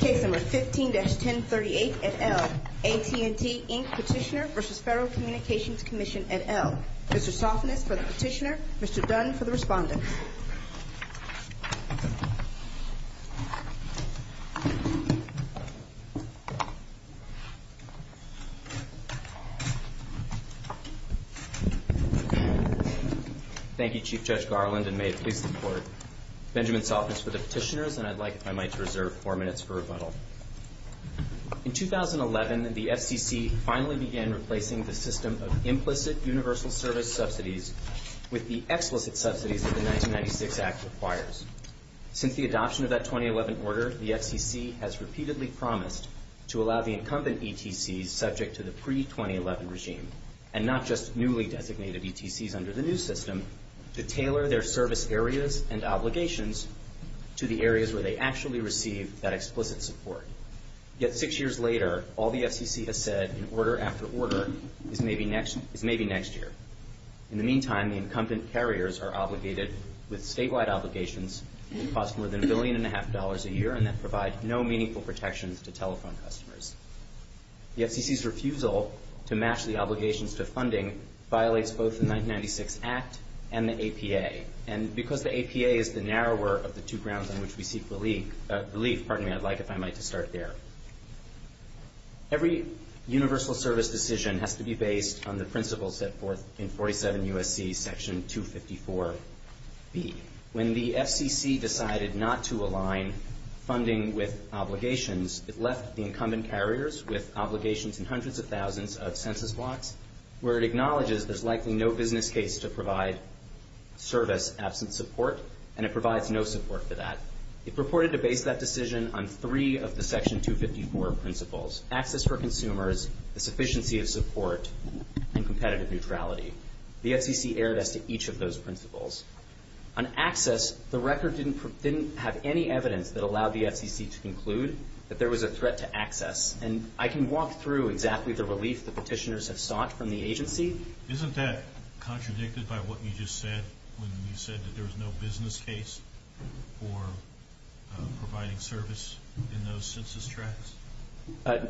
Case No. 15-1038, et al., AT&T, Inc. Petitioner v. Federal Communications Commission, et al. Mr. Sofnes for the petitioner, Mr. Dunn for the respondent. Thank you, Chief Judge Garland, and may it please the Court. Benjamin Sofnes for the petitioners, and I'd like, if I might, to reserve four minutes for rebuttal. In 2011, the FCC finally began replacing the system of implicit universal service subsidies with the explicit subsidies that the 1996 Act requires. Since the adoption of that 2011 order, the FCC has repeatedly promised to allow the incumbent ETCs subject to the pre-2011 regime and not just newly designated ETCs under the new system to tailor their service areas and obligations to the areas where they actually receive that explicit support. Yet six years later, all the FCC has said in order after order is maybe next year. In the meantime, the incumbent carriers are obligated with statewide obligations to cost more than $1.5 billion a year and that provide no meaningful protections to telephone customers. The FCC's refusal to match the obligations to funding violates both the 1996 Act and the APA, and because the APA is the narrower of the two grounds on which we seek relief, pardon me, I'd like, if I might, to start there. Every universal service decision has to be based on the principles set forth in 47 U.S.C. section 254B. When the FCC decided not to align funding with obligations, it left the incumbent carriers with obligations in hundreds of thousands of census blocks where it acknowledges there's likely no business case to provide service absent support, and it provides no support for that. It purported to base that decision on three of the section 254 principles, access for consumers, the sufficiency of support, and competitive neutrality. The FCC erred as to each of those principles. On access, the record didn't have any evidence that allowed the FCC to conclude that there was a threat to access, and I can walk through exactly the relief the petitioners have sought from the agency. Isn't that contradicted by what you just said when you said that there was no business case for providing service in those census tracts?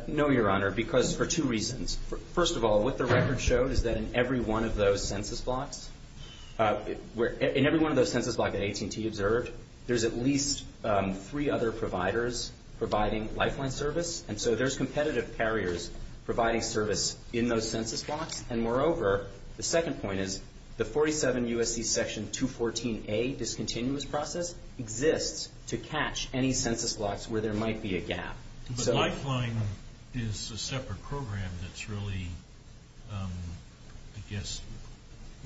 No, Your Honor, because for two reasons. First of all, what the record showed is that in every one of those census blocks, in every one of those census blocks that AT&T observed, there's at least three other providers providing lifeline service, and so there's competitive carriers providing service in those census blocks, and moreover, the second point is the 47 U.S.C. section 214A discontinuous process exists to catch any census blocks where there might be a gap. But lifeline is a separate program that's really, I guess,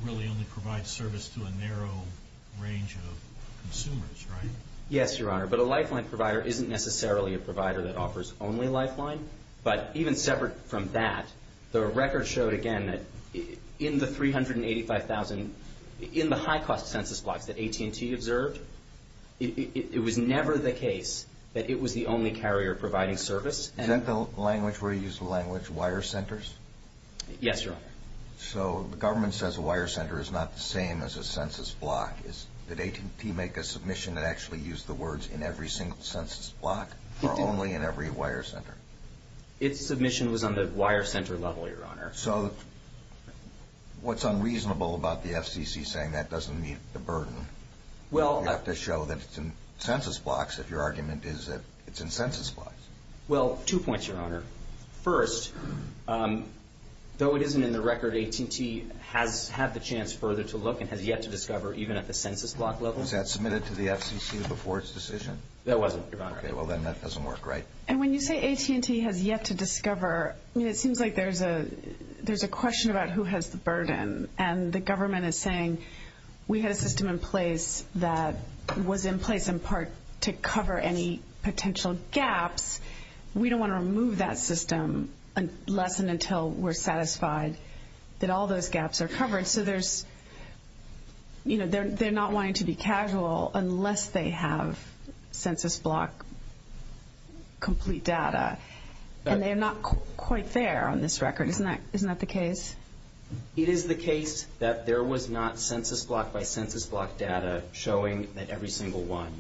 really only provides service to a narrow range of consumers, right? Yes, Your Honor, but a lifeline provider isn't necessarily a provider that offers only lifeline, but even separate from that, the record showed again that in the 385,000, in the high-cost census blocks that AT&T observed, it was never the case that it was the only carrier providing service. Is that the language where you use the language wire centers? Yes, Your Honor. So the government says a wire center is not the same as a census block. Did AT&T make a submission that actually used the words in every single census block or only in every wire center? Its submission was on the wire center level, Your Honor. So what's unreasonable about the FCC saying that doesn't meet the burden? You have to show that it's in census blocks if your argument is that it's in census blocks. Well, two points, Your Honor. First, though it isn't in the record, AT&T has had the chance further to look and has yet to discover even at the census block level. Was that submitted to the FCC before its decision? That wasn't, Your Honor. Okay, well then that doesn't work, right? And when you say AT&T has yet to discover, it seems like there's a question about who has the burden, and the government is saying we had a system in place that was in place in part to cover any potential gaps. We don't want to remove that system unless and until we're satisfied that all those gaps are covered. So there's, you know, they're not wanting to be casual unless they have census block complete data. And they're not quite there on this record. Isn't that the case? It is the case that there was not census block by census block data showing that every single one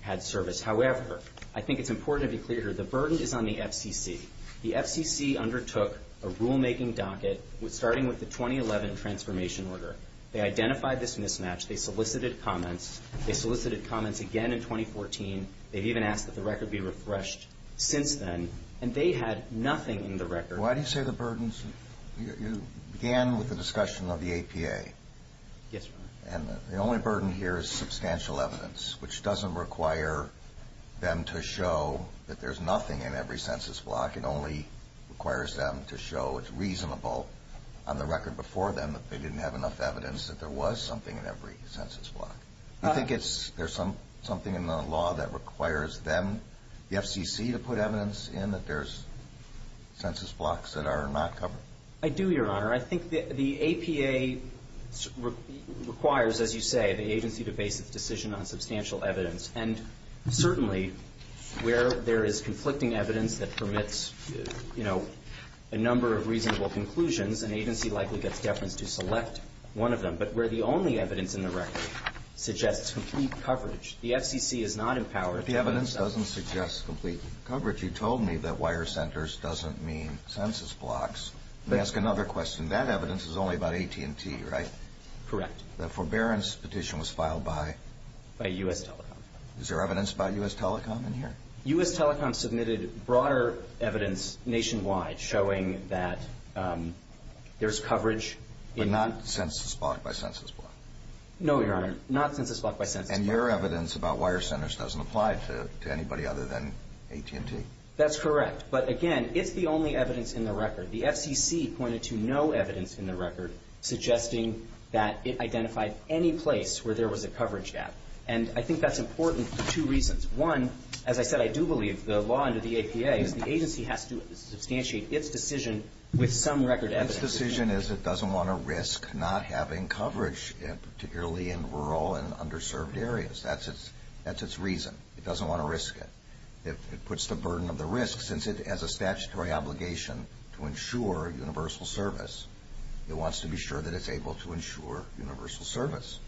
had service. However, I think it's important to be clear here, the burden is on the FCC. The FCC undertook a rulemaking docket starting with the 2011 transformation order. They identified this mismatch. They solicited comments. They solicited comments again in 2014. They even asked that the record be refreshed since then, and they had nothing in the record. Why do you say the burdens? You began with the discussion of the APA. Yes, Your Honor. And the only burden here is substantial evidence, which doesn't require them to show that there's nothing in every census block. It only requires them to show it's reasonable on the record before them that they didn't have enough evidence that there was something in every census block. Do you think there's something in the law that requires them, the FCC, to put evidence in that there's census blocks that are not covered? I do, Your Honor. I think the APA requires, as you say, the agency to base its decision on substantial evidence. And certainly where there is conflicting evidence that permits, you know, a number of reasonable conclusions, an agency likely gets deference to select one of them. But where the only evidence in the record suggests complete coverage, the FCC is not empowered to do so. But the evidence doesn't suggest complete coverage. You told me that wire centers doesn't mean census blocks. Let me ask another question. That evidence is only about AT&T, right? Correct. The forbearance petition was filed by? By U.S. Telecom. Is there evidence by U.S. Telecom in here? U.S. Telecom submitted broader evidence nationwide showing that there's coverage. But not census block by census block? No, Your Honor. Not census block by census block. And your evidence about wire centers doesn't apply to anybody other than AT&T? That's correct. But, again, it's the only evidence in the record. The FCC pointed to no evidence in the record suggesting that it identified any place where there was a coverage gap. And I think that's important for two reasons. One, as I said, I do believe the law under the APA is the agency has to substantiate its decision with some record evidence. Its decision is it doesn't want to risk not having coverage, particularly in rural and underserved areas. That's its reason. It doesn't want to risk it. It puts the burden of the risk. Since it has a statutory obligation to ensure universal service, it wants to be sure that it's able to ensure universal service.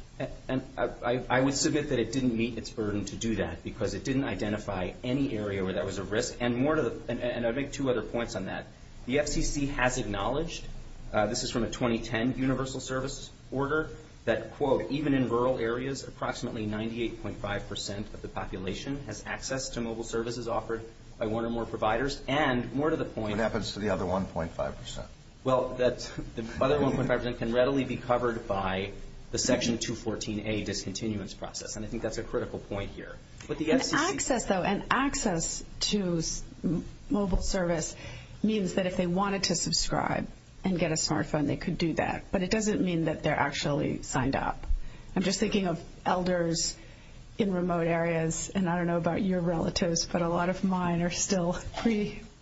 And I would submit that it didn't meet its burden to do that because it didn't identify any area where there was a risk. And I would make two other points on that. The FCC has acknowledged, this is from a 2010 universal service order, that, quote, even in rural areas approximately 98.5% of the population has access to mobile services offered by one or more providers. And more to the point. What happens to the other 1.5%? Well, the other 1.5% can readily be covered by the Section 214a discontinuance process, and I think that's a critical point here. Access, though, and access to mobile service means that if they wanted to subscribe and get a smartphone, they could do that. But it doesn't mean that they're actually signed up. I'm just thinking of elders in remote areas, and I don't know about your relatives, but a lot of mine are still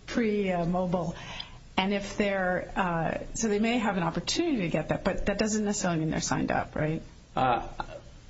pre-mobile. So they may have an opportunity to get that, but that doesn't necessarily mean they're signed up, right? I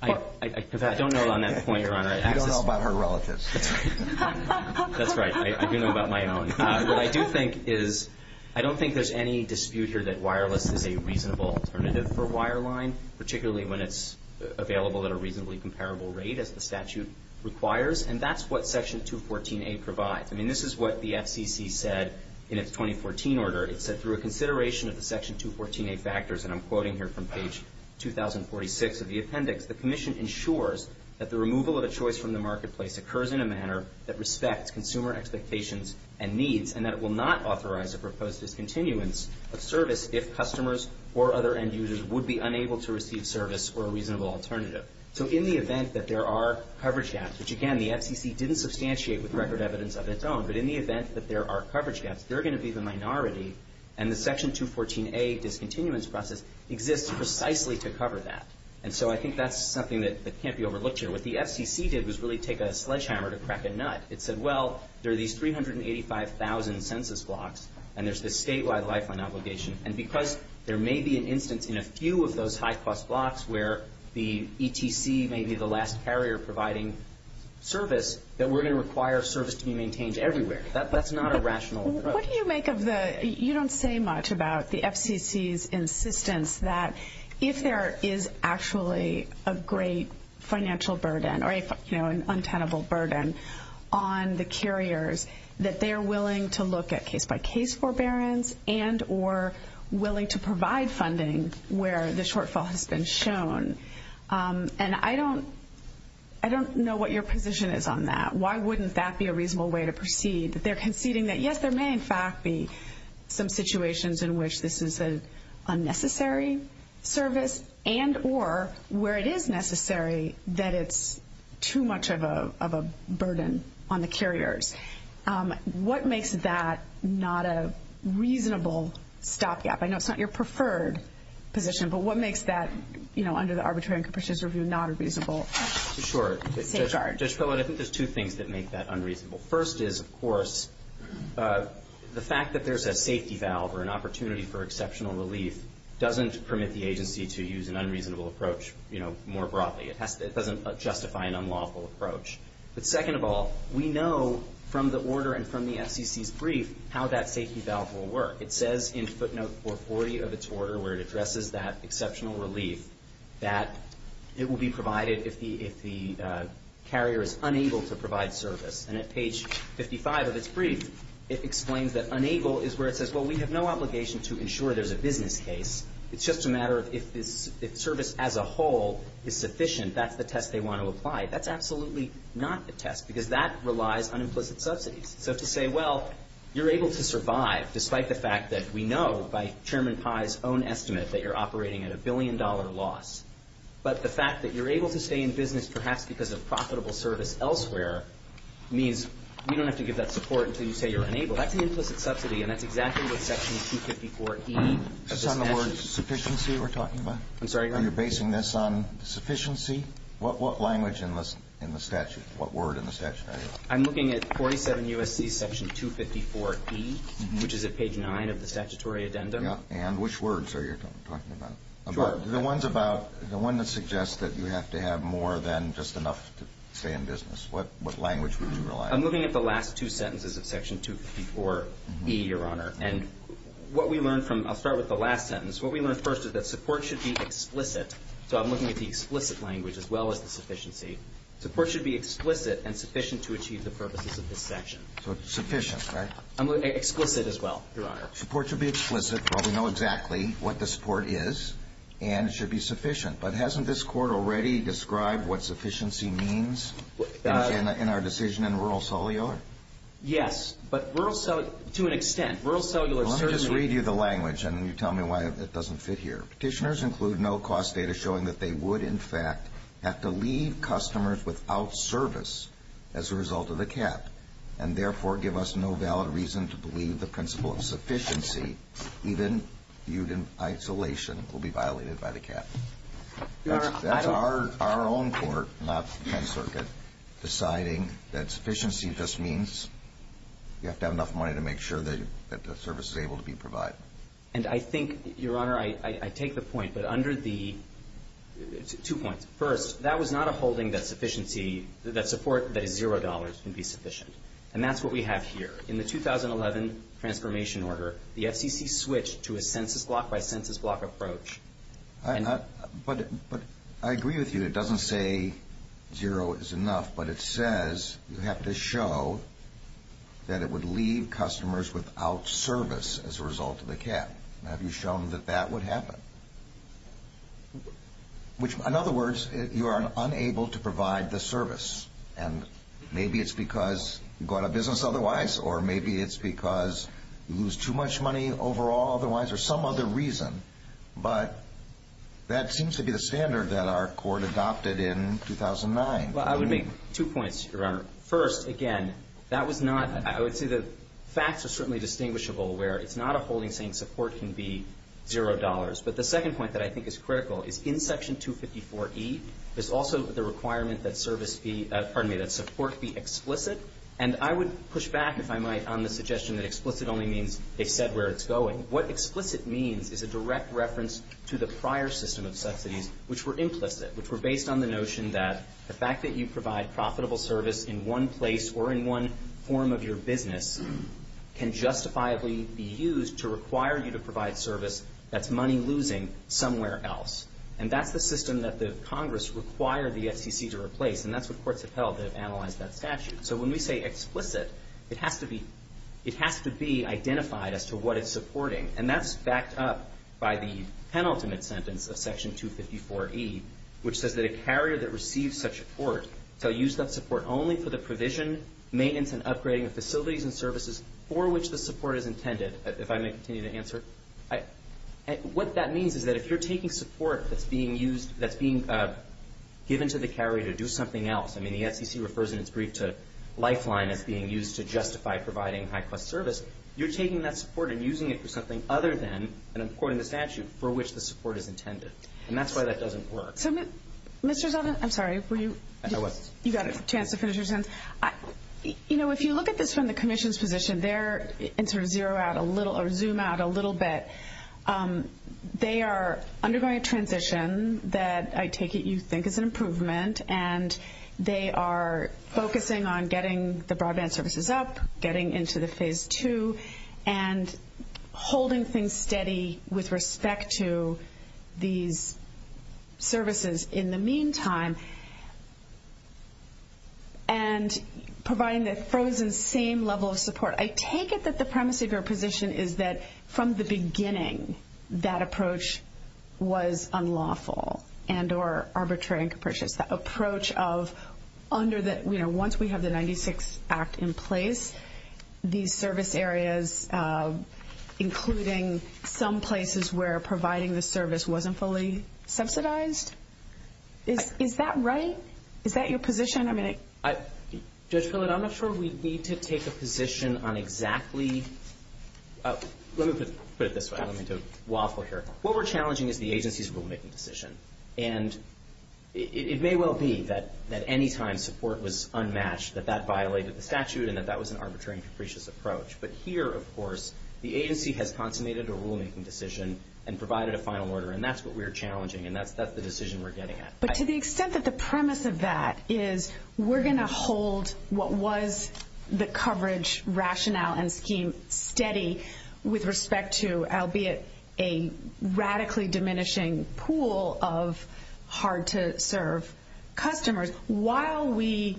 don't know on that point, Your Honor. You don't know about her relatives. That's right. I do know about my own. What I do think is I don't think there's any dispute here that wireless is a reasonable alternative for wireline, particularly when it's available at a reasonably comparable rate, as the statute requires. And that's what Section 214a provides. I mean, this is what the FCC said in its 2014 order. It said, through a consideration of the Section 214a factors, and I'm quoting here from page 2046 of the appendix, the commission ensures that the removal of a choice from the marketplace occurs in a manner that respects consumer expectations and needs, and that it will not authorize a proposed discontinuance of service if customers or other end users would be unable to receive service or a reasonable alternative. So in the event that there are coverage gaps, which, again, the FCC didn't substantiate with record evidence of its own, but in the event that there are coverage gaps, they're going to be the minority, and the Section 214a discontinuance process exists precisely to cover that. And so I think that's something that can't be overlooked here. What the FCC did was really take a sledgehammer to crack a nut. It said, well, there are these 385,000 census blocks, and there's this statewide lifeline obligation, and because there may be an instance in a few of those high-cost blocks where the ETC may be the last carrier providing service, that we're going to require service to be maintained everywhere. That's not a rational approach. What do you make of the you don't say much about the FCC's insistence that if there is actually a great financial burden or an untenable burden on the carriers, that they are willing to look at case-by-case forbearance and or willing to provide funding where the shortfall has been shown? And I don't know what your position is on that. Why wouldn't that be a reasonable way to proceed? They're conceding that, yes, there may in fact be some situations in which this is an unnecessary service and or where it is necessary that it's too much of a burden on the carriers. What makes that not a reasonable stopgap? I know it's not your preferred position, but what makes that, you know, under the arbitrary and capricious review, not a reasonable safeguard? Sure. Judge Pillard, I think there's two things that make that unreasonable. First is, of course, the fact that there's a safety valve or an opportunity for exceptional relief doesn't permit the agency to use an unreasonable approach, you know, more broadly. It doesn't justify an unlawful approach. But second of all, we know from the order and from the FCC's brief how that safety valve will work. It says in footnote 440 of its order where it addresses that exceptional relief that it will be provided if the carrier is unable to provide service. And at page 55 of its brief, it explains that unable is where it says, well, we have no obligation to ensure there's a business case. It's just a matter of if this service as a whole is sufficient, that's the test they want to apply. That's absolutely not the test because that relies on implicit subsidies. So to say, well, you're able to survive despite the fact that we know by Chairman Pai's own estimate that you're operating at a billion dollar loss. But the fact that you're able to stay in business, perhaps because of profitable service elsewhere, means we don't have to give that support until you say you're unable. That's an implicit subsidy, and that's exactly what section 254E of this statute. This is on the word sufficiency we're talking about? I'm sorry. You're basing this on sufficiency? What language in the statute? What word in the statute? I'm looking at 47 U.S.C. section 254E, which is at page 9 of the statutory addendum. And which words are you talking about? The ones about the one that suggests that you have to have more than just enough to stay in business. What language would you rely on? I'm looking at the last two sentences of section 254E, Your Honor. And what we learned from – I'll start with the last sentence. What we learned first is that support should be explicit. So I'm looking at the explicit language as well as the sufficiency. Support should be explicit and sufficient to achieve the purposes of this section. So sufficient, right? Explicit as well, Your Honor. Support should be explicit. Well, we know exactly what the support is, and it should be sufficient. But hasn't this court already described what sufficiency means in our decision in rural cellular? Yes, but rural cellular – to an extent, rural cellular – Let me just read you the language, and then you tell me why it doesn't fit here. Petitioners include no-cost data showing that they would, in fact, have to leave customers without service as a result of the cap and therefore give us no valid reason to believe the principle of sufficiency, even viewed in isolation, will be violated by the cap. That's our own court, not the 10th Circuit, deciding that sufficiency just means you have to have enough money to make sure that the service is able to be provided. And I think, Your Honor, I take the point. But under the – two points. First, that was not a holding that support that is $0 can be sufficient, and that's what we have here. In the 2011 transformation order, the FCC switched to a census block-by-census block approach. But I agree with you. It doesn't say $0 is enough, but it says you have to show that it would leave customers without service as a result of the cap. Have you shown that that would happen? Which, in other words, you are unable to provide the service. And maybe it's because you go out of business otherwise, or maybe it's because you lose too much money overall otherwise, or some other reason. But that seems to be the standard that our court adopted in 2009. First, again, that was not – I would say the facts are certainly distinguishable where it's not a holding saying support can be $0. But the second point that I think is critical is in Section 254E, there's also the requirement that service be – pardon me, that support be explicit. And I would push back, if I might, on the suggestion that explicit only means they said where it's going. What explicit means is a direct reference to the prior system of subsidies, which were implicit, which were based on the notion that the fact that you provide profitable service in one place or in one form of your business can justifiably be used to require you to provide service that's money losing somewhere else. And that's the system that the Congress required the FCC to replace, and that's what courts have held that have analyzed that statute. So when we say explicit, it has to be – it has to be identified as to what it's supporting. And that's backed up by the penultimate sentence of Section 254E, which says that a carrier that receives such support shall use that support only for the provision, maintenance, and upgrading of facilities and services for which the support is intended. If I may continue to answer. What that means is that if you're taking support that's being used – that's being given to the carrier to do something else – I mean, the FCC refers in its brief to Lifeline as being used to justify providing high-cost service. You're taking that support and using it for something other than – and I'm quoting the statute – for which the support is intended. And that's why that doesn't work. So, Mr. Zeldin – I'm sorry, were you – I was. You got a chance to finish your sentence. You know, if you look at this from the commission's position there and sort of zero out a little or zoom out a little bit, they are undergoing a transition that I take it you think is an improvement, and they are focusing on getting the broadband services up, getting into the Phase 2, and holding things steady with respect to these services in the meantime, and providing the frozen same level of support. I take it that the premise of your position is that from the beginning that approach was unlawful and or arbitrary and capricious. That approach of under the – you know, once we have the 96 Act in place, these service areas, including some places where providing the service wasn't fully subsidized. Is that right? Is that your position? I mean, it – Judge Phillip, I'm not sure we need to take a position on exactly – let me put it this way. Let me do a waffle here. What we're challenging is the agency's rulemaking decision. And it may well be that any time support was unmatched that that violated the statute and that that was an arbitrary and capricious approach. But here, of course, the agency has consummated a rulemaking decision and provided a final order, and that's what we're challenging, and that's the decision we're getting at. But to the extent that the premise of that is we're going to hold what was the coverage rationale and scheme steady with respect to, albeit a radically diminishing pool of hard-to-serve customers, while we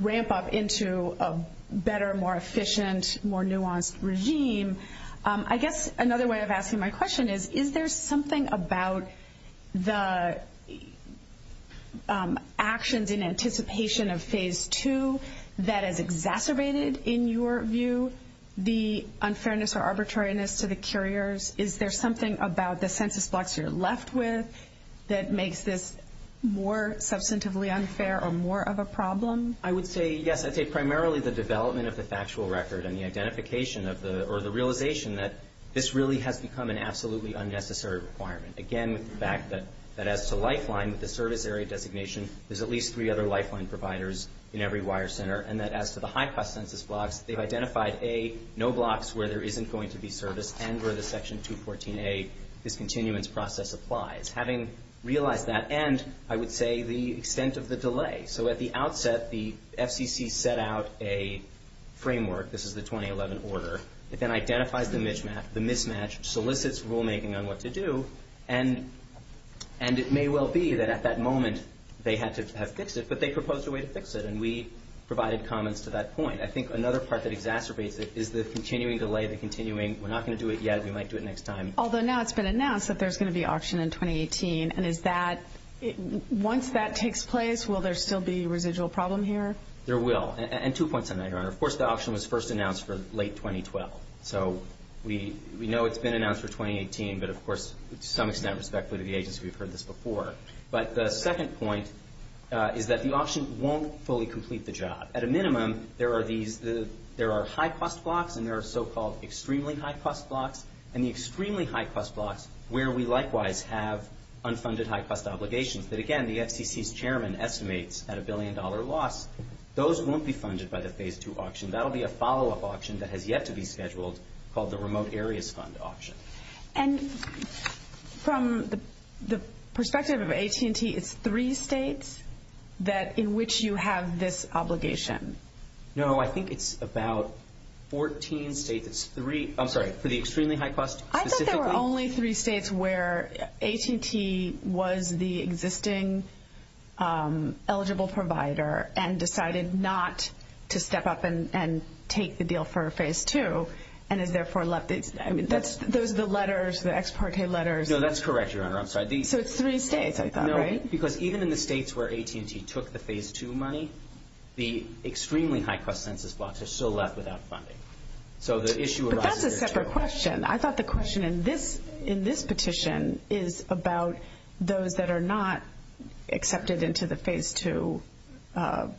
ramp up into a better, more efficient, more nuanced regime, I guess another way of asking my question is, is there something about the actions in anticipation of Phase 2 that has exacerbated, in your view, the unfairness or arbitrariness to the couriers? Is there something about the census blocks you're left with that makes this more substantively unfair or more of a problem? I would say, yes, I'd say primarily the development of the factual record and the identification or the realization that this really has become an absolutely unnecessary requirement. Again, with the fact that as to Lifeline, with the service area designation, there's at least three other Lifeline providers in every wire center, and that as to the high-cost census blocks, they've identified, A, no blocks where there isn't going to be service and where the Section 214a discontinuance process applies. Having realized that, and I would say the extent of the delay. So at the outset, the FCC set out a framework. This is the 2011 order. It then identifies the mismatch, solicits rulemaking on what to do, and it may well be that at that moment they had to have fixed it, but they proposed a way to fix it, and we provided comments to that point. I think another part that exacerbates it is the continuing delay, the continuing, we're not going to do it yet, we might do it next time. Although now it's been announced that there's going to be auction in 2018, and is that, once that takes place, will there still be a residual problem here? There will. And two points on that, Your Honor. Of course, the auction was first announced for late 2012. So we know it's been announced for 2018, but of course, to some extent, respectfully to the agency, we've heard this before. But the second point is that the auction won't fully complete the job. At a minimum, there are high-cost blocks and there are so-called extremely high-cost blocks, and the extremely high-cost blocks where we likewise have unfunded high-cost obligations that, again, the FCC's chairman estimates at a billion-dollar loss. Those won't be funded by the Phase 2 auction. That will be a follow-up auction that has yet to be scheduled called the Remote Areas Fund auction. And from the perspective of AT&T, it's three states in which you have this obligation? No, I think it's about 14 states. I'm sorry, for the extremely high-cost specifically? I thought there were only three states where AT&T was the existing eligible provider and decided not to step up and take the deal for Phase 2 and has therefore left it. I mean, those are the letters, the ex parte letters. No, that's correct, Your Honor. I'm sorry. So it's three states, I thought, right? No, because even in the states where AT&T took the Phase 2 money, the extremely high-cost census blocks are still left without funding. But that's a separate question. I thought the question in this petition is about those that are not accepted into the Phase 2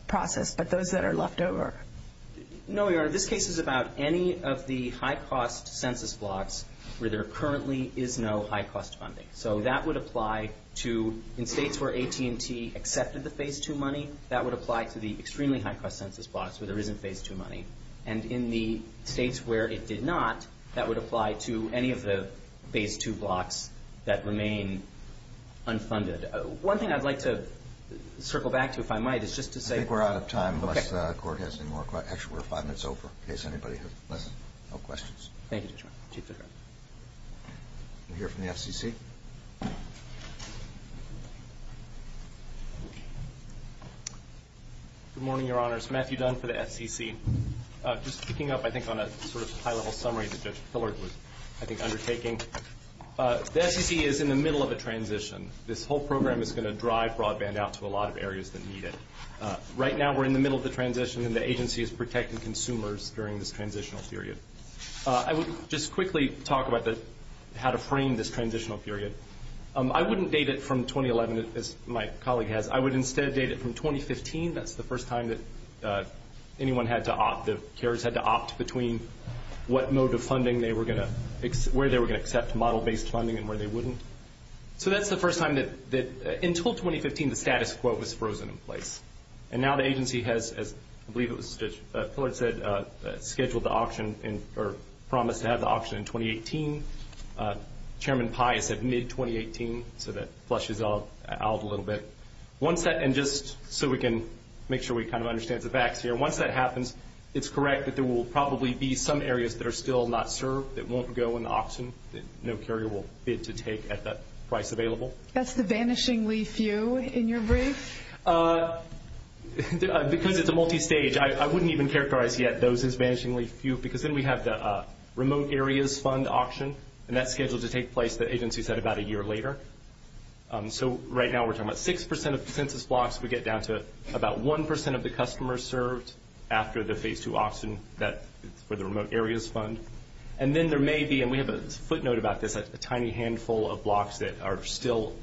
process, but those that are left over. No, Your Honor. This case is about any of the high-cost census blocks where there currently is no high-cost funding. So that would apply to, in states where AT&T accepted the Phase 2 money, that would apply to the extremely high-cost census blocks where there isn't Phase 2 money. And in the states where it did not, that would apply to any of the Phase 2 blocks that remain unfunded. One thing I'd like to circle back to, if I might, is just to say we're out of time. Okay. Unless the Court has any more questions. Actually, we're five minutes over in case anybody has no questions. Thank you, Judge. Chief Judge. We'll hear from the FCC. Good morning, Your Honor. It's Matthew Dunn for the FCC. Just picking up, I think, on a sort of high-level summary that Judge Pillard was, I think, undertaking. The FCC is in the middle of a transition. This whole program is going to drive broadband out to a lot of areas that need it. Right now, we're in the middle of the transition, and the agency is protecting consumers during this transitional period. I would just quickly talk about how to frame this transitional period. I wouldn't date it from 2011, as my colleague has. I would instead date it from 2015. That's the first time that anyone had to opt. The carriers had to opt between what mode of funding they were going to accept, where they were going to accept model-based funding, and where they wouldn't. So that's the first time that, until 2015, the status quo was frozen in place. And now the agency has, as I believe it was Judge Pillard said, scheduled the auction or promised to have the auction in 2018. Chairman Pai has said mid-2018, so that flushes it out a little bit. Just so we can make sure we kind of understand the facts here, once that happens, it's correct that there will probably be some areas that are still not served, that won't go in the auction, that no carrier will bid to take at that price available. That's the vanishingly few in your brief? Because it's a multi-stage, I wouldn't even characterize yet those as vanishingly few, because then we have the remote areas fund auction, and that's scheduled to take place, the agency said, about a year later. So right now we're talking about 6% of the census blocks. We get down to about 1% of the customers served after the Phase II auction for the remote areas fund. And then there may be, and we have a footnote about this, a tiny handful of blocks that are still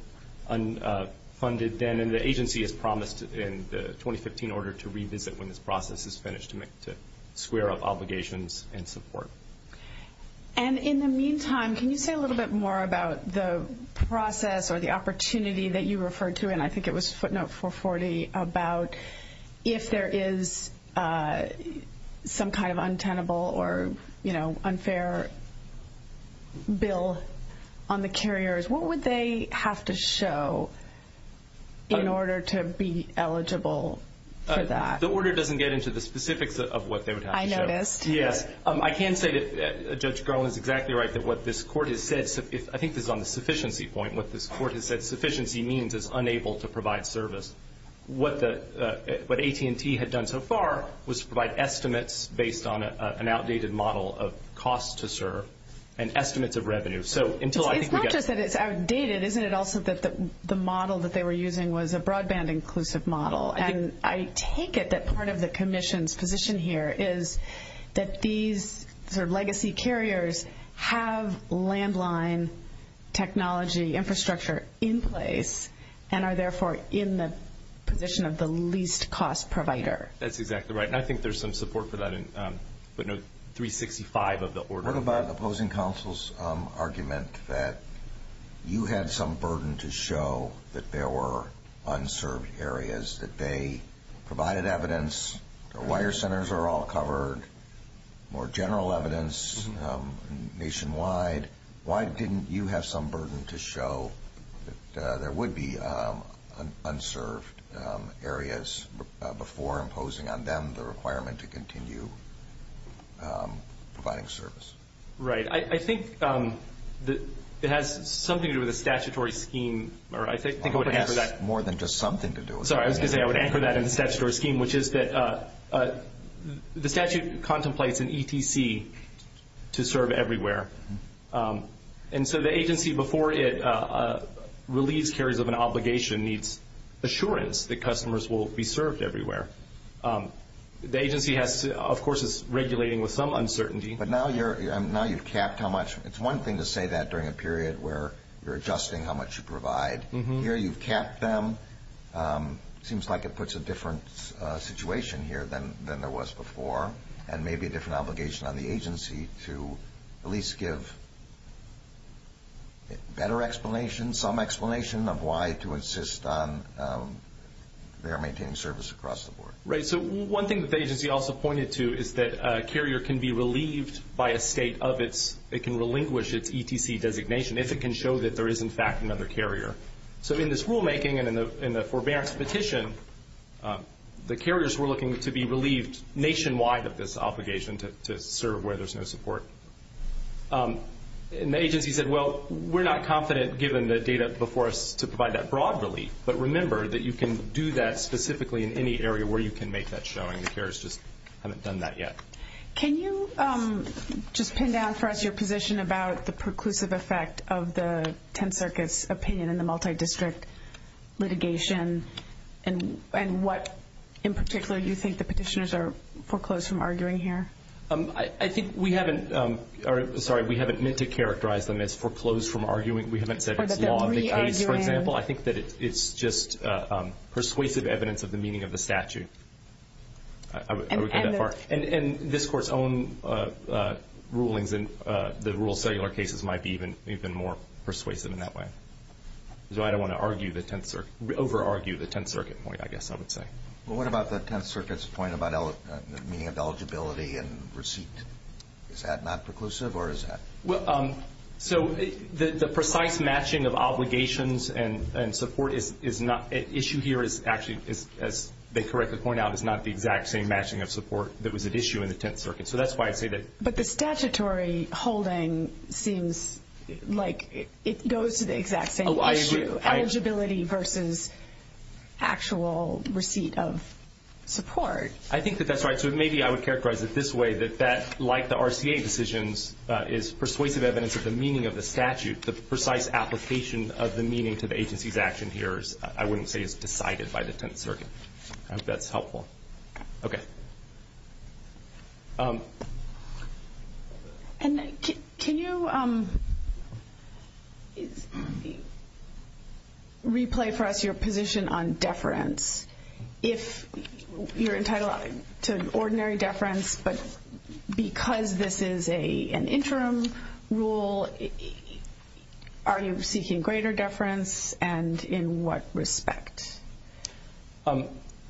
unfunded then, and the agency has promised in the 2015 order to revisit when this process is finished to square up obligations and support. And in the meantime, can you say a little bit more about the process or the opportunity that you referred to, and I think it was footnote 440, about if there is some kind of untenable or unfair bill on the carriers, what would they have to show in order to be eligible for that? The order doesn't get into the specifics of what they would have to show. I noticed. Yes. I can say that Judge Garland is exactly right that what this court has said, I think this is on the sufficiency point, what this court has said sufficiency means is unable to provide service. What AT&T had done so far was to provide estimates based on an outdated model of costs to serve and estimates of revenue. It's not just that it's outdated. Isn't it also that the model that they were using was a broadband-inclusive model? And I take it that part of the commission's position here is that these legacy carriers have landline technology infrastructure in place and are therefore in the position of the least cost provider. That's exactly right, and I think there's some support for that in footnote 365 of the order. What about opposing counsel's argument that you had some burden to show that there were unserved areas, that they provided evidence, the wire centers are all covered, more general evidence nationwide. Why didn't you have some burden to show that there would be unserved areas before imposing on them the requirement to continue providing service? Right. I think it has something to do with a statutory scheme, or I think it would have to do with that. Sorry, I was going to say I would anchor that in the statutory scheme, which is that the statute contemplates an ETC to serve everywhere. And so the agency, before it relieves carriers of an obligation, needs assurance that customers will be served everywhere. The agency, of course, is regulating with some uncertainty. But now you've capped how much. It's one thing to say that during a period where you're adjusting how much you provide. Here you've capped them. It seems like it puts a different situation here than there was before, and maybe a different obligation on the agency to at least give better explanation, some explanation of why to insist on their maintaining service across the board. Right. So one thing that the agency also pointed to is that a carrier can be relieved by a state of its, it can relinquish its ETC designation if it can show that there is, in fact, another carrier. So in this rulemaking and in the forbearance petition, the carriers were looking to be relieved nationwide of this obligation to serve where there's no support. And the agency said, well, we're not confident, given the data before us, to provide that broad relief. But remember that you can do that specifically in any area where you can make that showing. The carriers just haven't done that yet. Can you just pin down for us your position about the preclusive effect of the 10th Circus opinion and the multi-district litigation and what in particular you think the petitioners are foreclosed from arguing here? I think we haven't meant to characterize them as foreclosed from arguing. We haven't said it's law of the case, for example. I think that it's just persuasive evidence of the meaning of the statute. And this Court's own rulings in the rural cellular cases might be even more persuasive in that way. So I don't want to over-argue the 10th Circuit point, I guess I would say. Well, what about the 10th Circuit's point about the meaning of eligibility and receipt? Is that not preclusive or is that? So the precise matching of obligations and support issue here is actually, as they correctly point out, is not the exact same matching of support that was at issue in the 10th Circuit. So that's why I say that. But the statutory holding seems like it goes to the exact same issue, eligibility versus actual receipt of support. I think that that's right. So maybe I would characterize it this way, that that, like the RCA decisions, is persuasive evidence of the meaning of the statute. The precise application of the meaning to the agency's action here, I wouldn't say is decided by the 10th Circuit. Okay. And can you replay for us your position on deference? If you're entitled to ordinary deference, but because this is an interim rule, are you seeking greater deference and in what respect?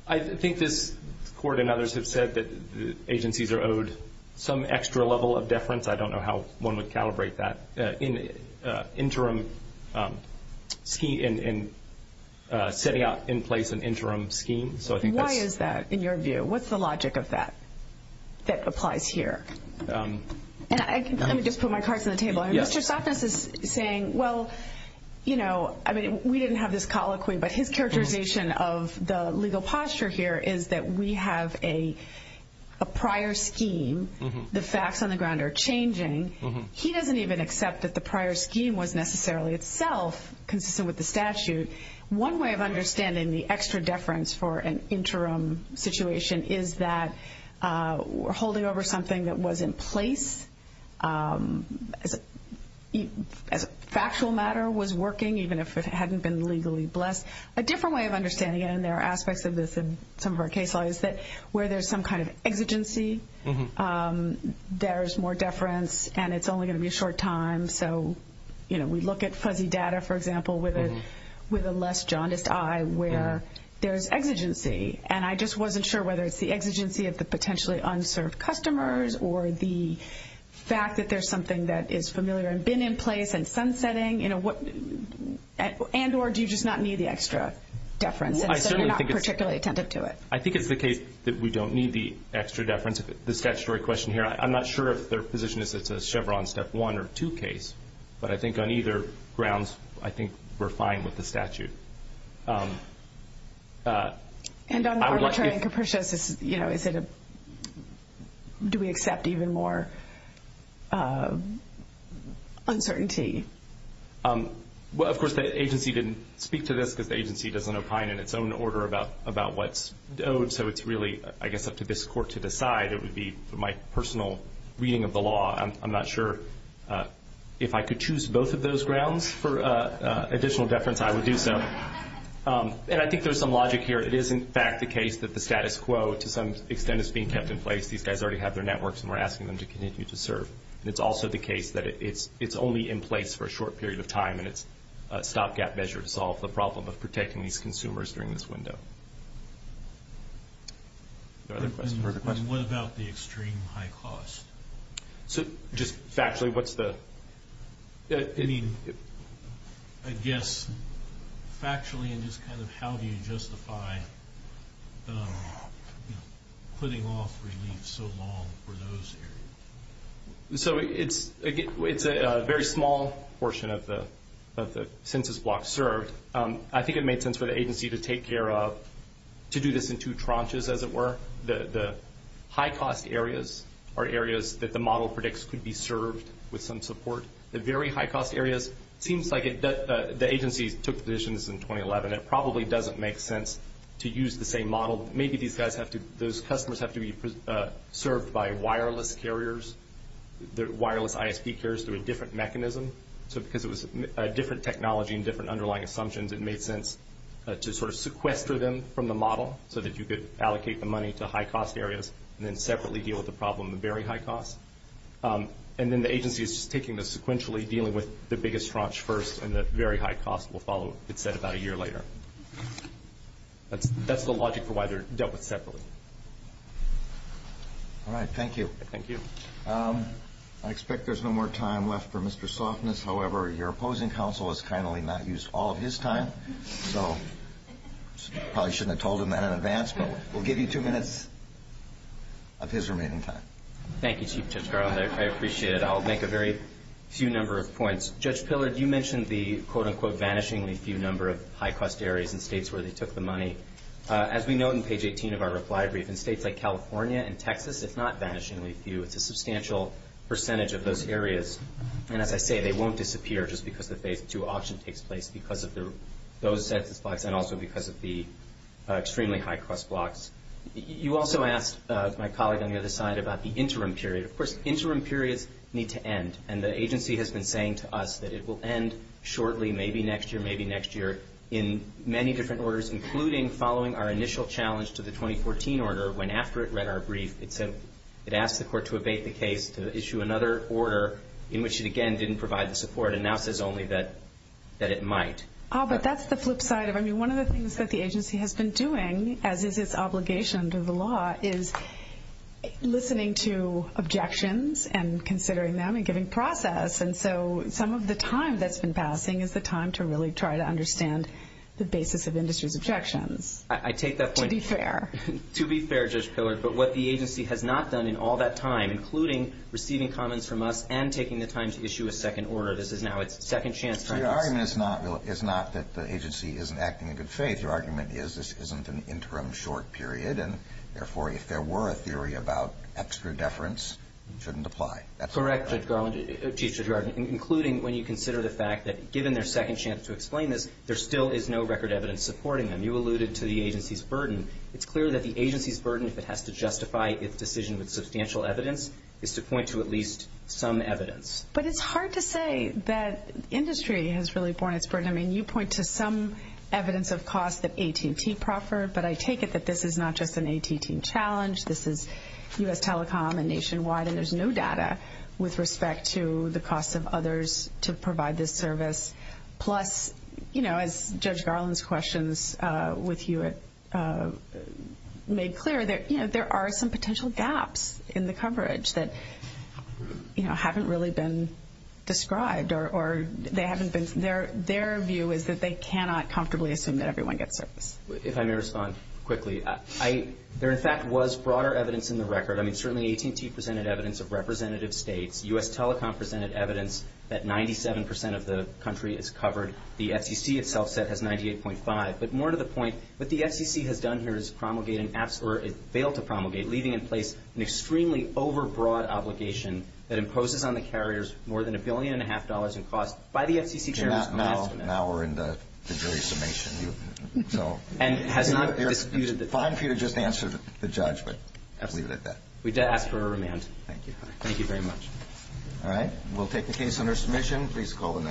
I think this Court and others have said that agencies are owed some extra level of deference. I don't know how one would calibrate that in setting out in place an interim scheme. Why is that in your view? What's the logic of that that applies here? Well, you know, I mean, we didn't have this colloquy, but his characterization of the legal posture here is that we have a prior scheme. The facts on the ground are changing. He doesn't even accept that the prior scheme was necessarily itself consistent with the statute. One way of understanding the extra deference for an interim situation is that we're holding over something that was in place. As a factual matter was working, even if it hadn't been legally blessed. A different way of understanding it, and there are aspects of this in some of our case law, is that where there's some kind of exigency, there's more deference, and it's only going to be a short time. So, you know, we look at fuzzy data, for example, with a less jaundiced eye where there's exigency. And I just wasn't sure whether it's the exigency of the potentially unserved customers or the fact that there's something that is familiar and been in place and sun setting, you know, and or do you just not need the extra deference and so you're not particularly attentive to it? I think it's the case that we don't need the extra deference. The statutory question here, I'm not sure if their position is it's a Chevron step one or two case, but I think on either grounds, I think we're fine with the statute. And on arbitrary and capricious, you know, do we accept even more uncertainty? Well, of course, the agency didn't speak to this because the agency doesn't opine in its own order about what's owed. So it's really, I guess, up to this court to decide. It would be my personal reading of the law. I'm not sure if I could choose both of those grounds for additional deference, I would do so. And I think there's some logic here. It is, in fact, the case that the status quo to some extent is being kept in place. These guys already have their networks and we're asking them to continue to serve. And it's also the case that it's only in place for a short period of time and it's a stopgap measure to solve the problem of protecting these consumers during this window. No other questions? And what about the extreme high cost? So just factually, what's the... I mean, I guess factually and just kind of how do you justify putting off relief so long for those areas? So it's a very small portion of the census block served. I think it made sense for the agency to take care of, to do this in two tranches, as it were. The high cost areas are areas that the model predicts could be served with some support. The very high cost areas, it seems like the agency took positions in 2011. It probably doesn't make sense to use the same model. Maybe these guys have to, those customers have to be served by wireless carriers, wireless ISP carriers through a different mechanism. So because it was a different technology and different underlying assumptions, it made sense to sort of sequester them from the model so that you could allocate the money to high cost areas and then separately deal with the problem of the very high cost. And then the agency is just taking this sequentially, dealing with the biggest tranche first, and the very high cost will follow, it said, about a year later. That's the logic for why they're dealt with separately. All right, thank you. Thank you. I expect there's no more time left for Mr. Softness. However, your opposing counsel has kindly not used all of his time, so probably shouldn't have told him that in advance. But we'll give you two minutes of his remaining time. Thank you, Chief Judge Garland. I appreciate it. I'll make a very few number of points. Judge Pillard, you mentioned the, quote, unquote, vanishingly few number of high cost areas in states where they took the money. As we note in page 18 of our reply brief, in states like California and Texas, it's not vanishingly few. It's a substantial percentage of those areas. And as I say, they won't disappear just because the Phase 2 auction takes place because of those census blocks and also because of the extremely high cost blocks. You also asked my colleague on the other side about the interim period. Of course, interim periods need to end, and the agency has been saying to us that it will end shortly, maybe next year, maybe next year, in many different orders, including following our initial challenge to the 2014 order, when after it read our brief it said it asked the court to abate the case to issue another order in which it, again, didn't provide the support and now says only that it might. But that's the flip side of it. I mean, one of the things that the agency has been doing, as is its obligation to the law, is listening to objections and considering them and giving process. And so some of the time that's been passing is the time to really try to understand the basis of industry's objections. I take that point. To be fair. To be fair, Judge Pillard, but what the agency has not done in all that time, including receiving comments from us and taking the time to issue a second order, this is now its second chance. Your argument is not that the agency isn't acting in good faith. Your argument is this isn't an interim short period, and therefore if there were a theory about extra deference, it shouldn't apply. Correct, Judge Garland, including when you consider the fact that given their second chance to explain this, there still is no record evidence supporting them. When you alluded to the agency's burden, it's clear that the agency's burden, if it has to justify its decision with substantial evidence, is to point to at least some evidence. But it's hard to say that industry has really borne its burden. I mean, you point to some evidence of cost that AT&T proffered, but I take it that this is not just an AT&T challenge. This is U.S. Telecom and nationwide, and there's no data with respect to the cost of others to provide this service. Plus, as Judge Garland's questions with you made clear, there are some potential gaps in the coverage that haven't really been described. Their view is that they cannot comfortably assume that everyone gets service. If I may respond quickly, there in fact was broader evidence in the record. I mean, certainly AT&T presented evidence of representative states. U.S. Telecom presented evidence that 97 percent of the country is covered. The FCC itself said it has 98.5. But more to the point, what the FCC has done here is promulgated, or it failed to promulgate, leaving in place an extremely overbroad obligation that imposes on the carriers more than a billion and a half dollars in cost by the FCC. Now we're in the jury's summation. It's fine for you to just answer the judge, but leave it at that. We ask for a remand. Thank you. Thank you very much. All right, we'll take the case under submission.